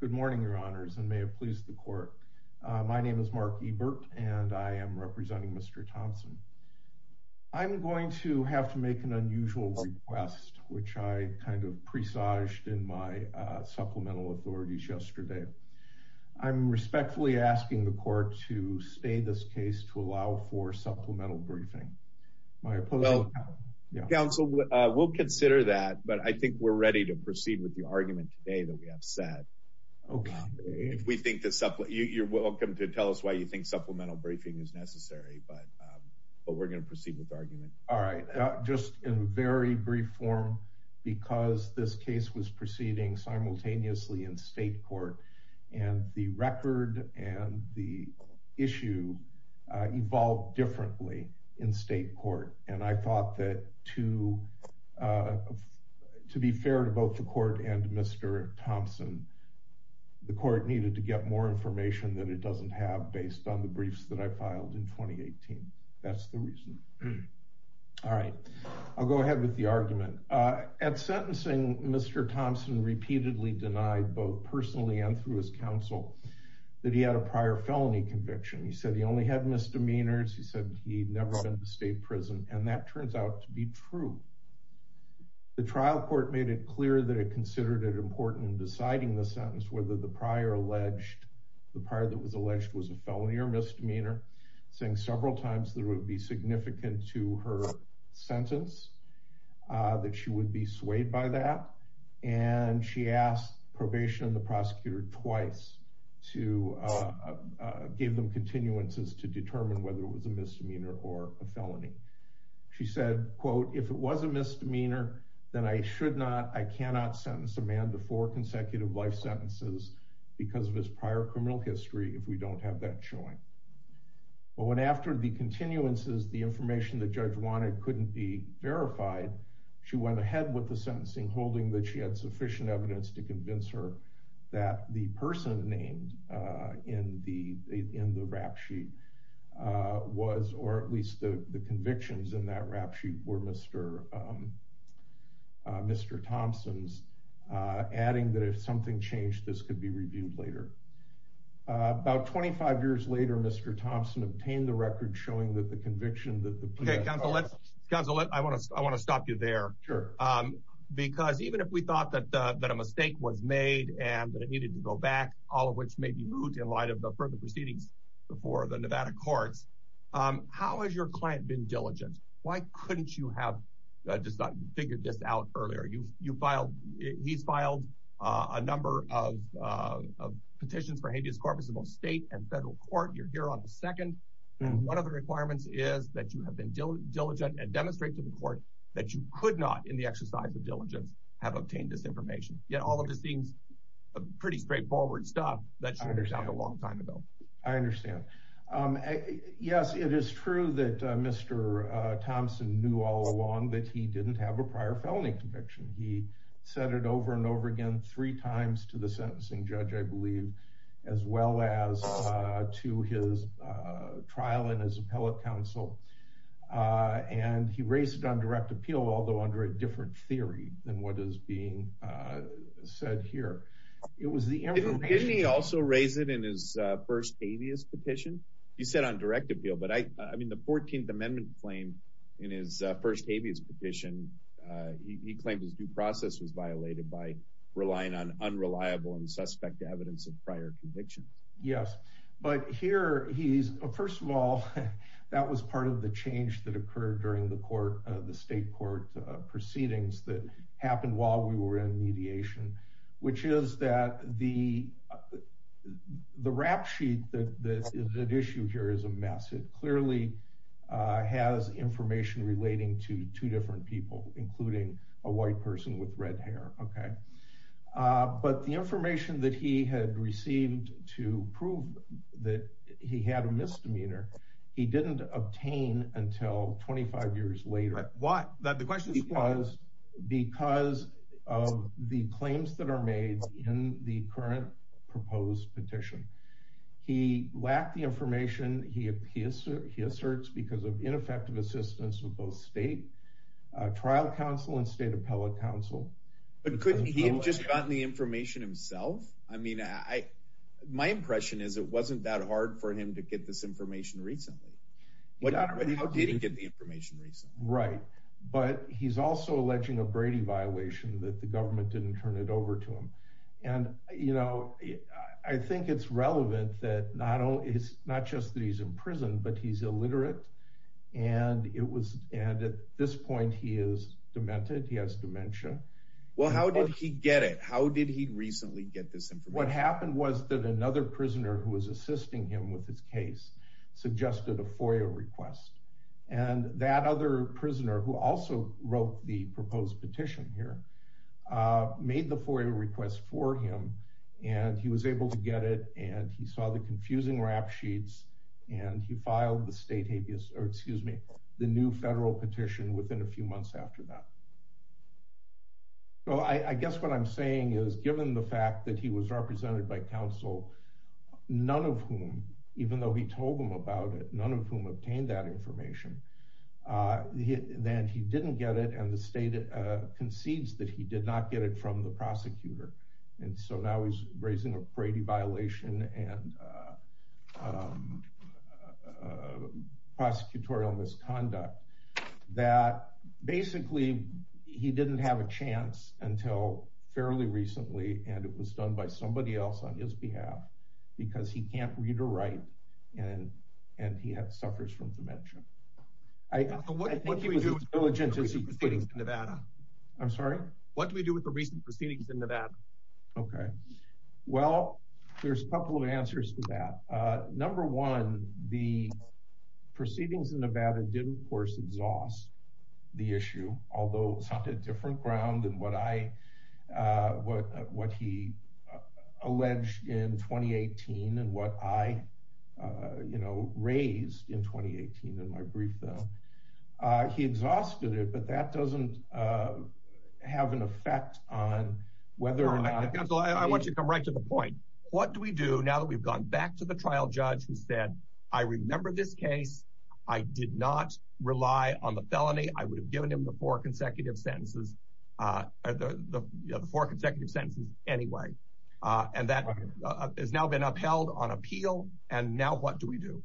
Good morning, your honors and may it please the court. My name is Mark Ebert and I am representing Mr. Thompson. I'm going to have to make an unusual request, which I kind of presaged in my supplemental authorities yesterday. I'm respectfully asking the court to stay this case to allow for supplemental briefing. Well, counsel, we'll consider that, but I think we're ready to proceed with the argument today that we have set. You're welcome to tell us why you think supplemental briefing is necessary, but we're going to proceed with argument. All right. Just in very brief form, because this case was proceeding simultaneously in state court, and the record and the issue evolved differently in state court. And I thought that to be fair to both the court and Mr. Thompson, the court needed to get more information than it doesn't have based on the briefs that I filed in 2018. That's the reason. All right. I'll go ahead with the argument. At sentencing, Mr. Thompson repeatedly denied both personally and through his counsel that he had a prior felony conviction. He said he only had misdemeanors. He said he'd never been to state prison. And that turns out to be true. The trial court made it clear that it considered it important in deciding the sentence, whether the prior alleged the prior that was alleged was a felony or misdemeanor, saying several times there would be significant to her sentence that she would be swayed by that. And she asked probation and the prosecutor twice to give them continuances to determine whether it was a misdemeanor or a felony. She said, quote, If it was a misdemeanor, then I should not. I cannot sentence a man to four consecutive life sentences because of his prior criminal history. If we don't have that showing. But when after the continuances, the information the judge wanted couldn't be verified. She went ahead with the sentencing, holding that she had sufficient evidence to convince her that the person named in the in the rap sheet was or at least the convictions in that rap sheet were Mr. Thompson's, adding that if something changed, this could be reviewed later. About 25 years later, Mr. Thompson obtained the record showing that the conviction that the counsel let's cancel it. I want to I want to stop you there. Sure. Because even if we thought that that a mistake was made and that it needed to go back, all of which may be moved in light of the further proceedings before the Nevada courts. How has your client been diligent? Why couldn't you have just figured this out earlier? You you filed. He's filed a number of petitions for habeas corpus, both state and federal court. You're here on the second. One of the requirements is that you have been diligent and demonstrate to the court that you could not in the exercise of diligence have obtained this information. Yet all of this seems pretty straightforward stuff that I understand a long time ago. I understand. Yes, it is true that Mr. Thompson knew all along that he didn't have a prior felony conviction. He said it over and over again, three times to the sentencing judge, I believe, as well as to his trial in his appellate counsel. And he raised it on direct appeal, although under a different theory than what is being said here. It was the enemy. He also raised it in his first habeas petition. He said on direct appeal. But I mean, the 14th Amendment claim in his first habeas petition. He claimed his due process was violated by relying on unreliable and suspect evidence of prior convictions. Yes. But here he is. First of all, that was part of the change that occurred during the court. The state court proceedings that happened while we were in mediation, which is that the the rap sheet that is an issue here is a massive, clearly has information relating to two different people, including a white person with red hair. OK, but the information that he had received to prove that he had a misdemeanor, he didn't obtain until 25 years later. But what the question is, was because of the claims that are made in the current proposed petition, he lacked the information. He appears he asserts because of ineffective assistance with both state trial counsel and state appellate counsel. But could he have just gotten the information himself? I mean, I my impression is it wasn't that hard for him to get this information recently. But how did he get the information? Right. But he's also alleging a Brady violation that the government didn't turn it over to him. And, you know, I think it's relevant that not only is not just that he's in prison, but he's illiterate. And it was and at this point he is demented. He has dementia. Well, how did he get it? How did he recently get this? What happened was that another prisoner who was assisting him with his case suggested a FOIA request. And that other prisoner, who also wrote the proposed petition here, made the FOIA request for him. And he was able to get it. And he saw the confusing rap sheets. And he filed the state habeas or excuse me, the new federal petition within a few months after that. Well, I guess what I'm saying is, given the fact that he was represented by counsel, none of whom, even though he told them about it, none of whom obtained that information. Then he didn't get it. And the state concedes that he did not get it from the prosecutor. And so now he's raising a Brady violation and prosecutorial misconduct that basically he didn't have a chance until fairly recently. And it was done by somebody else on his behalf because he can't read or write. And and he suffers from dementia. What do we do with the recent proceedings in Nevada? I'm sorry? What do we do with the recent proceedings in Nevada? OK, well, there's a couple of answers to that. Number one, the proceedings in Nevada did, of course, exhaust the issue, although something different ground than what I what what he alleged in twenty eighteen and what I, you know, raised in twenty eighteen in my brief. He exhausted it, but that doesn't have an effect on whether or not I want to come right to the point. What do we do now that we've gone back to the trial judge who said, I remember this case. I did not rely on the felony. I would have given him the four consecutive sentences, the four consecutive sentences anyway. And that has now been upheld on appeal. And now what do we do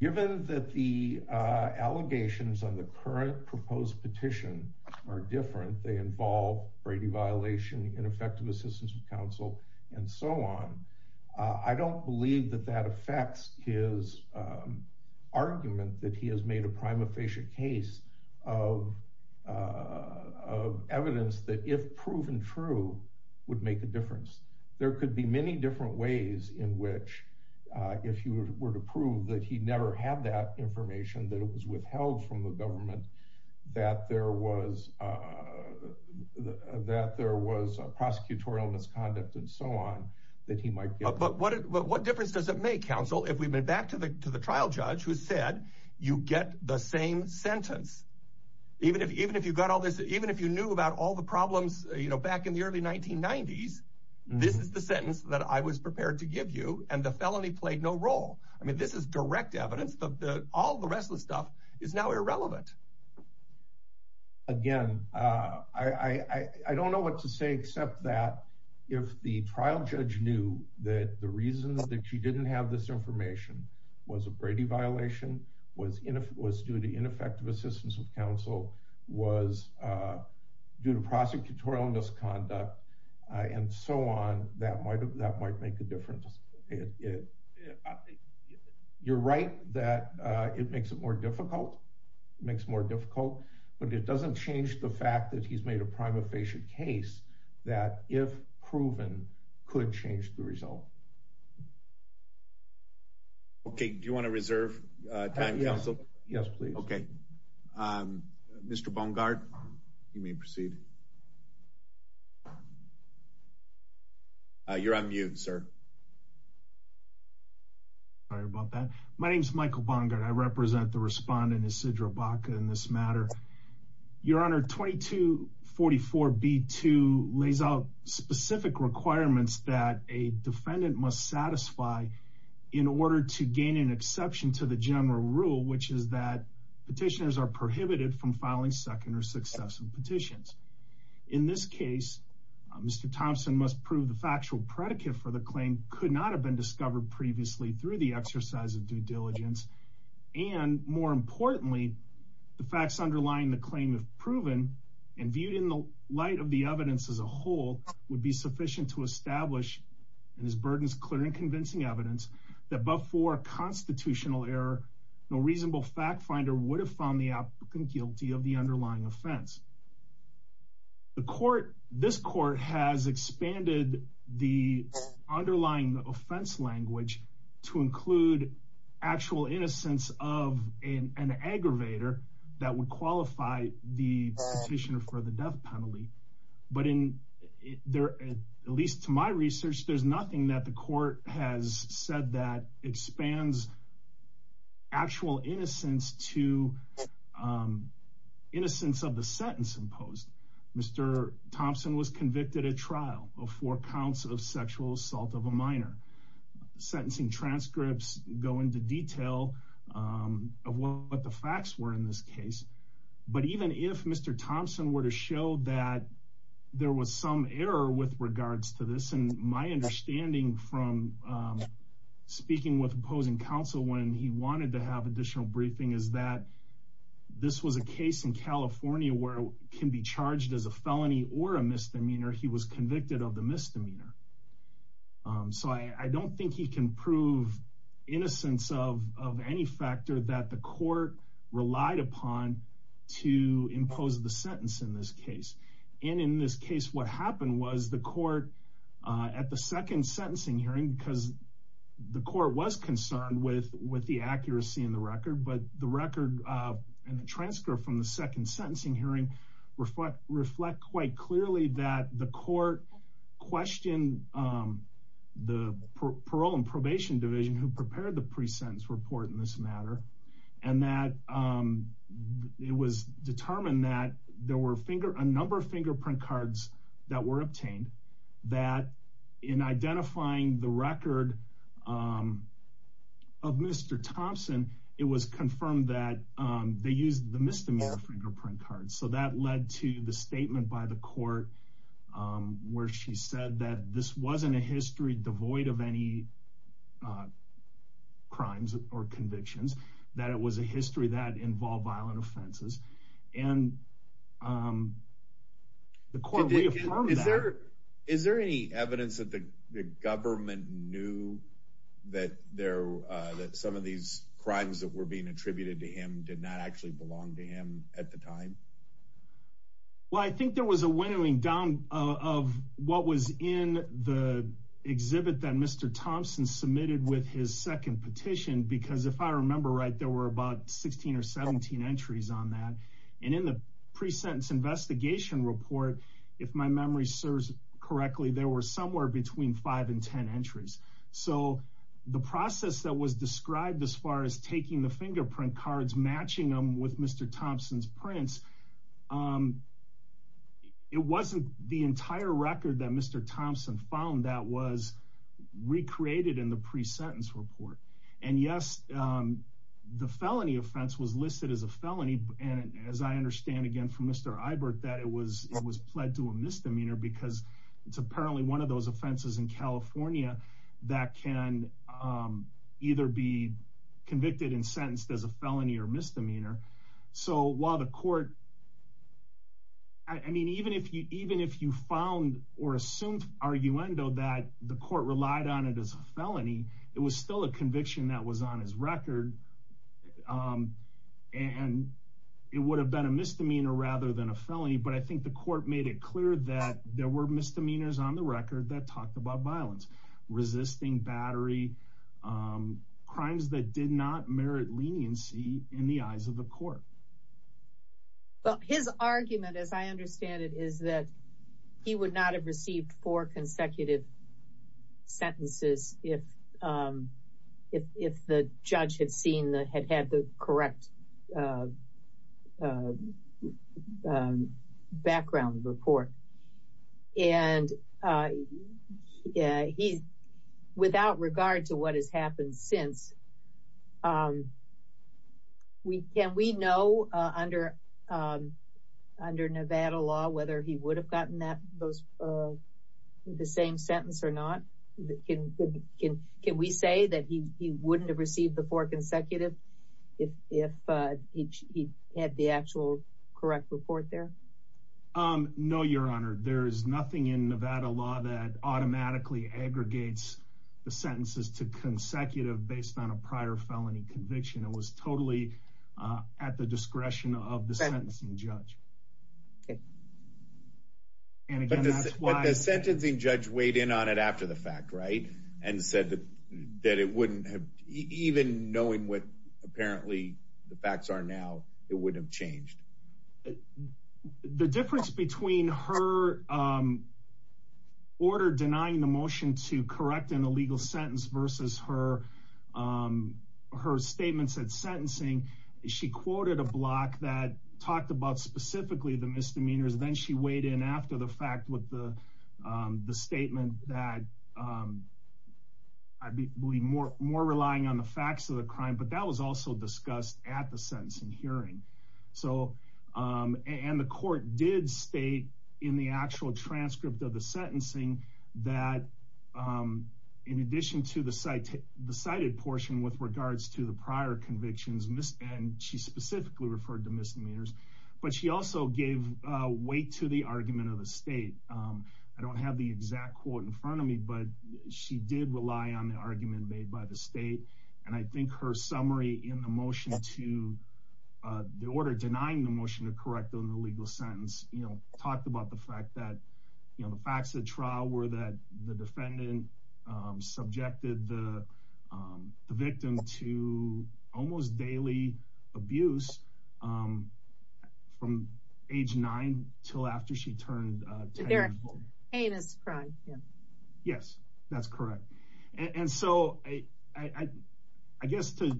given that the allegations on the current proposed petition are different? They involve Brady violation, ineffective assistance with counsel and so on. I don't believe that that affects his argument that he has made a prima facie case of of evidence that if proven true would make a difference. There could be many different ways in which if you were to prove that he never had that information, that it was withheld from the government, that there was that there was a prosecutorial misconduct and so on that he might. But what what difference does it make, counsel, if we've been back to the to the trial judge who said you get the same sentence, even if even if you got all this, even if you knew about all the problems back in the early 1990s, this is the sentence that I was prepared to give you and the felony played no role. I mean, this is direct evidence of all the rest of the stuff is now irrelevant. Again, I don't know what to say, except that if the trial judge knew that the reasons that she didn't have this information was a Brady violation, was it was due to ineffective assistance of counsel, was due to prosecutorial misconduct and so on. That might that might make a difference. You're right that it makes it more difficult, makes more difficult. But it doesn't change the fact that he's made a prima facie case that if proven could change the result. OK, do you want to reserve time, counsel? Yes, please. OK, Mr. Bungard, you may proceed. You're on mute, sir. Sorry about that. My name's Michael Bungard. I represent the respondent, Isidro Baca, in this matter. Your Honor, 2244B2 lays out specific requirements that a defendant must satisfy in order to gain an exception to the general rule, which is that petitioners are prohibited from filing second or successive petitions. In this case, Mr. Thompson must prove the factual predicate for the claim could not have been discovered previously through the exercise of due diligence. And more importantly, the facts underlying the claim have proven and viewed in the light of the evidence as a whole, would be sufficient to establish in his burdens, clear and convincing evidence that before constitutional error, no reasonable fact finder would have found the applicant guilty of the underlying offense. The court, this court has expanded the underlying offense language to include actual innocence of an aggravator that would qualify the petitioner for the death penalty. But in there, at least to my research, there's nothing that the court has said that expands actual innocence to innocence of the sentence imposed. Mr. Thompson was convicted at trial of four counts of sexual assault of a minor. Sentencing transcripts go into detail of what the facts were in this case. But even if Mr. Thompson were to show that there was some error with regards to this, and my understanding from speaking with opposing counsel when he wanted to have additional briefing, is that this was a case in California where can be charged as a felony or a misdemeanor. He was convicted of the misdemeanor. So I don't think he can prove innocence of any factor that the court relied upon to impose the sentence in this case. And in this case, what happened was the court at the second sentencing hearing, because the court was concerned with the accuracy in the record, but the record and the transcript from the second sentencing hearing reflect quite clearly that the court questioned the parole and probation division who prepared the pre-sentence report in this matter, and that it was determined that there were a number of fingerprint cards that were obtained, and that in identifying the record of Mr. Thompson, it was confirmed that they used the misdemeanor fingerprint card. So that led to the statement by the court where she said that this wasn't a history devoid of any crimes or convictions, that it was a history that involved violent offenses, and the court reaffirmed that. Is there any evidence that the government knew that some of these crimes that were being attributed to him did not actually belong to him at the time? Well, I think there was a winnowing down of what was in the exhibit that Mr. Thompson submitted with his second petition, because if I remember right, there were about 16 or 17 entries on that. And in the pre-sentence investigation report, if my memory serves correctly, there were somewhere between 5 and 10 entries. So the process that was described as far as taking the fingerprint cards, matching them with Mr. Thompson's prints, it wasn't the entire record that Mr. Thompson found that was recreated in the pre-sentence report. And yes, the felony offense was listed as a felony, and as I understand again from Mr. Eibert, that it was it was pled to a misdemeanor because it's apparently one of those offenses in California that can either be convicted and sentenced as a felony or misdemeanor. So while the court, I mean, even if you even if you found or assumed arguendo that the court relied on it as a felony, it was still a conviction that was on his record and it would have been a misdemeanor rather than a felony. But I think the court made it clear that there were misdemeanors on the record that talked about violence, resisting battery, crimes that did not merit leniency in the eyes of the court. But his argument, as I understand it, is that he would not have received four consecutive sentences if the judge had seen that, had had the correct background report. And without regard to what has happened since, can we know under Nevada law whether he would have gotten the same sentence or not? Can we say that he wouldn't have received the four consecutive if he had the actual correct report there? No, Your Honor. There is nothing in Nevada law that automatically aggregates the sentences to consecutive based on a prior felony conviction. It was totally at the discretion of the sentencing judge. But the sentencing judge weighed in on it after the fact, right? And said that it wouldn't have, even knowing what apparently the facts are now, it wouldn't have changed. The difference between her order denying the motion to correct an illegal sentence versus her statement said sentencing, she quoted a block that talked about specifically the misdemeanors, then she weighed in after the fact with the statement that I believe more relying on the facts of the crime, but that was also discussed at the sentencing hearing. And the court did state in the actual transcript of the sentencing that in addition to the cited portion with regards to the prior convictions, and she specifically referred to misdemeanors, but she also gave weight to the argument of the state. I don't have the exact quote in front of me, but she did rely on the argument made by the state. And I think her summary in the motion to the order denying the motion to correct an illegal sentence, talked about the fact that the facts of the trial were that the defendant subjected the victim to almost daily abuse from age nine till after she turned 10 years old. Yes, that's correct. And so I guess to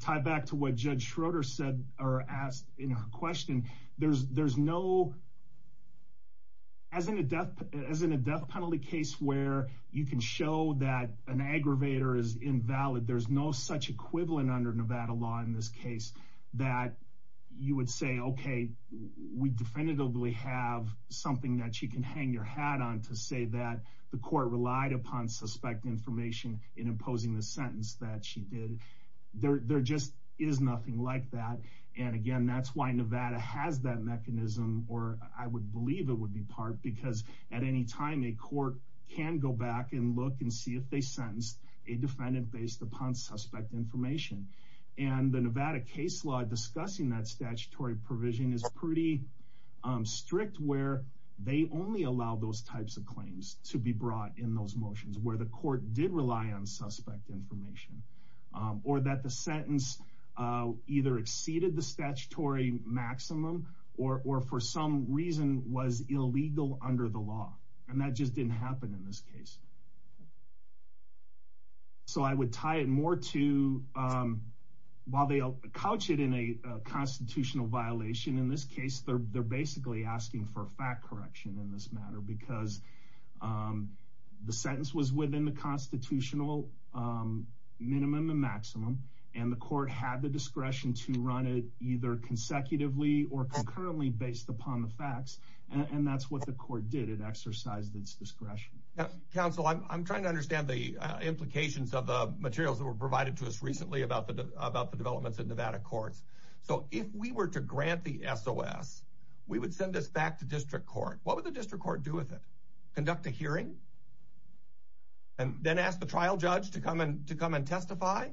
tie back to what Judge Schroeder said or asked in her question, there's no, as in a death penalty case where you can show that an aggravator is invalid, there's no such equivalent under Nevada law in this case that you would say, okay, we definitively have something that she can hang your hat on to say that the court relied upon suspect information in imposing the sentence that she did. There just is nothing like that. And again, that's why Nevada has that mechanism, or I would believe it would be part, because at any time a court can go back and look and see if they sentenced a defendant based upon suspect information. And the Nevada case law discussing that statutory provision is pretty strict, where they only allow those types of claims to be brought in those motions where the court did rely on suspect information, or that the sentence either exceeded the statutory maximum or for some reason was illegal under the law. And that just didn't happen in this case. So I would tie it more to while they couch it in a constitutional violation, in this case, they're basically asking for fact correction in this matter because the sentence was within the constitutional minimum and maximum, and the court had the discretion to run it either consecutively or concurrently based upon the facts. And that's what the court did. It exercised its discretion. Counsel, I'm trying to understand the implications of the materials that were provided to us recently about the developments in Nevada courts. So if we were to grant the SOS, we would send this back to district court. What would the district court do with it? Conduct a hearing and then ask the trial judge to come and testify?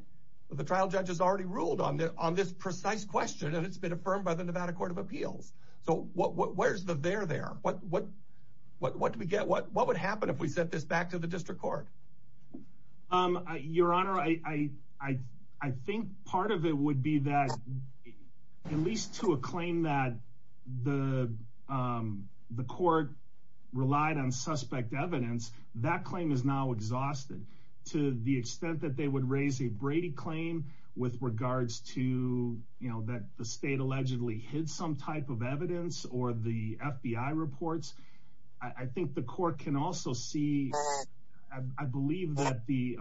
The trial judge has already ruled on this precise question, and it's been affirmed by the Nevada Court of Appeals. So where's the there there? What do we get? What would happen if we sent this back to the district court? Your Honor, I think part of it would be that at least to a claim that the court relied on suspect evidence. That claim is now exhausted to the extent that they would raise a Brady claim with regards to, you know, that the state allegedly hid some type of evidence or the FBI reports. I think the court can also see. I believe that the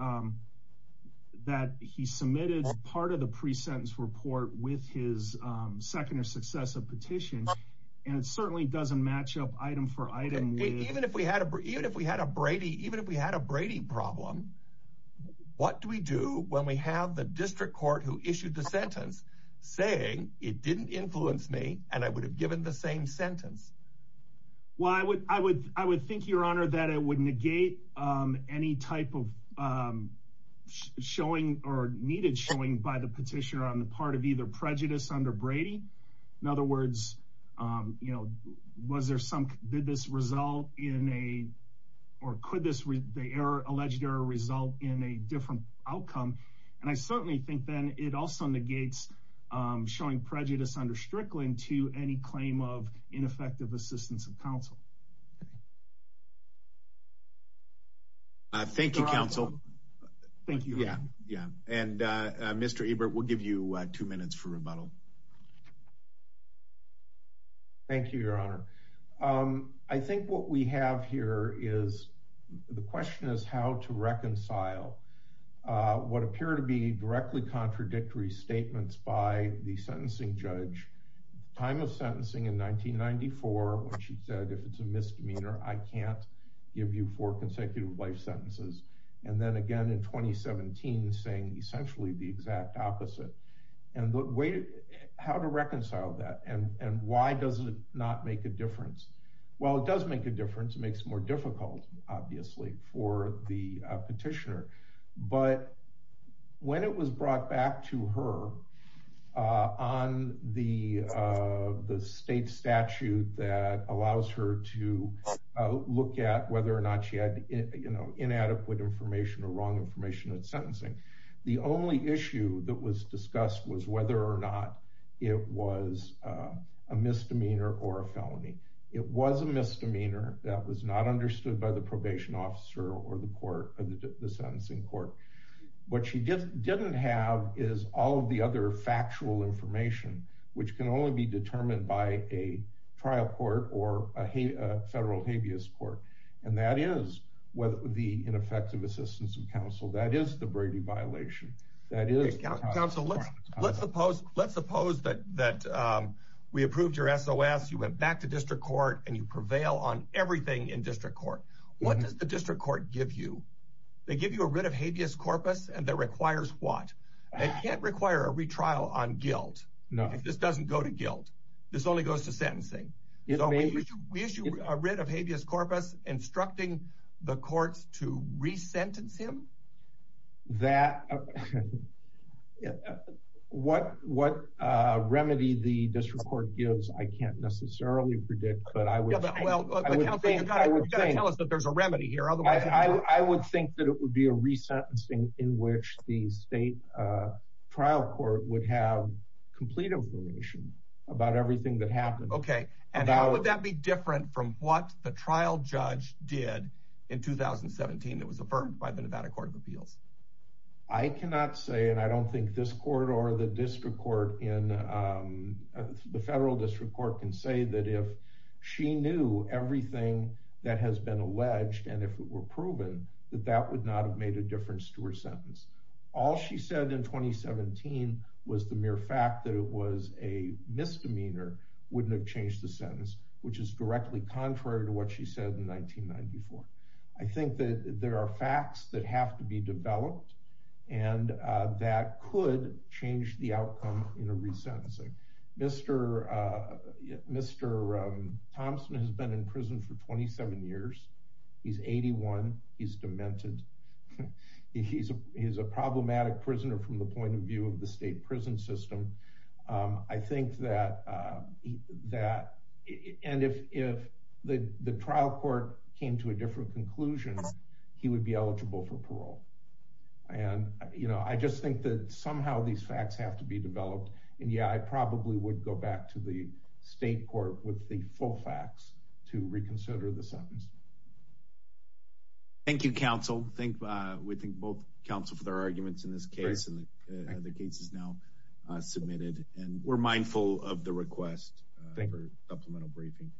that he submitted part of the pre-sentence report with his second or successive petition. And it certainly doesn't match up item for item. Even if we had a even if we had a Brady, even if we had a Brady problem, what do we do when we have the district court who issued the sentence saying it didn't influence me and I would have given the same sentence? Well, I would I would I would think, Your Honor, that it would negate any type of showing or needed showing by the petitioner on the part of either prejudice under Brady. In other words, you know, was there some did this result in a or could this the error alleged error result in a different outcome? And I certainly think then it also negates showing prejudice under Strickland to any claim of ineffective assistance of counsel. Thank you, counsel. Thank you. Yeah. Yeah. And Mr. Ebert, we'll give you two minutes for rebuttal. Thank you, Your Honor. I think what we have here is the question is how to reconcile what appear to be directly contradictory statements by the sentencing judge. Time of sentencing in 1994, when she said, if it's a misdemeanor, I can't give you four consecutive life sentences. And then again in 2017, saying essentially the exact opposite. And the way how to reconcile that and why does it not make a difference? Well, it does make a difference. It makes it more difficult, obviously, for the petitioner. But when it was brought back to her on the the state statute that allows her to look at whether or not she had, you know, inadequate information or wrong information in sentencing. The only issue that was discussed was whether or not it was a misdemeanor or a felony. It was a misdemeanor that was not understood by the probation officer or the court of the sentencing court. What she just didn't have is all of the other factual information which can only be determined by a trial court or a federal habeas court. And that is the ineffective assistance of counsel. That is the Brady violation. Counsel, let's suppose that we approved your SOS. You went back to district court and you prevail on everything in district court. What does the district court give you? They give you a writ of habeas corpus and that requires what? It can't require a retrial on guilt. No, this doesn't go to guilt. This only goes to sentencing. We issue a writ of habeas corpus instructing the courts to re-sentence him? What remedy the district court gives, I can't necessarily predict, but I would think that it would be a re-sentencing in which the state trial court would have complete information about everything that happened. And how would that be different from what the trial judge did in 2017 that was affirmed by the Nevada Court of Appeals? I cannot say, and I don't think this court or the federal district court can say that if she knew everything that has been alleged and if it were proven, that that would not have made a difference to her sentence. All she said in 2017 was the mere fact that it was a misdemeanor wouldn't have changed the sentence, which is directly contrary to what she said in 1994. I think that there are facts that have to be developed and that could change the outcome in a re-sentencing. Mr. Thompson has been in prison for 27 years. He's 81. He's demented. He's a problematic prisoner from the point of view of the state prison system. I think that if the trial court came to a different conclusion, he would be eligible for parole. And I just think that somehow these facts have to be developed. And yeah, I probably would go back to the state court with the full facts to reconsider the sentence. Thank you, counsel. We thank both counsel for their arguments in this case, and the case is now submitted. And we're mindful of the request for supplemental briefing.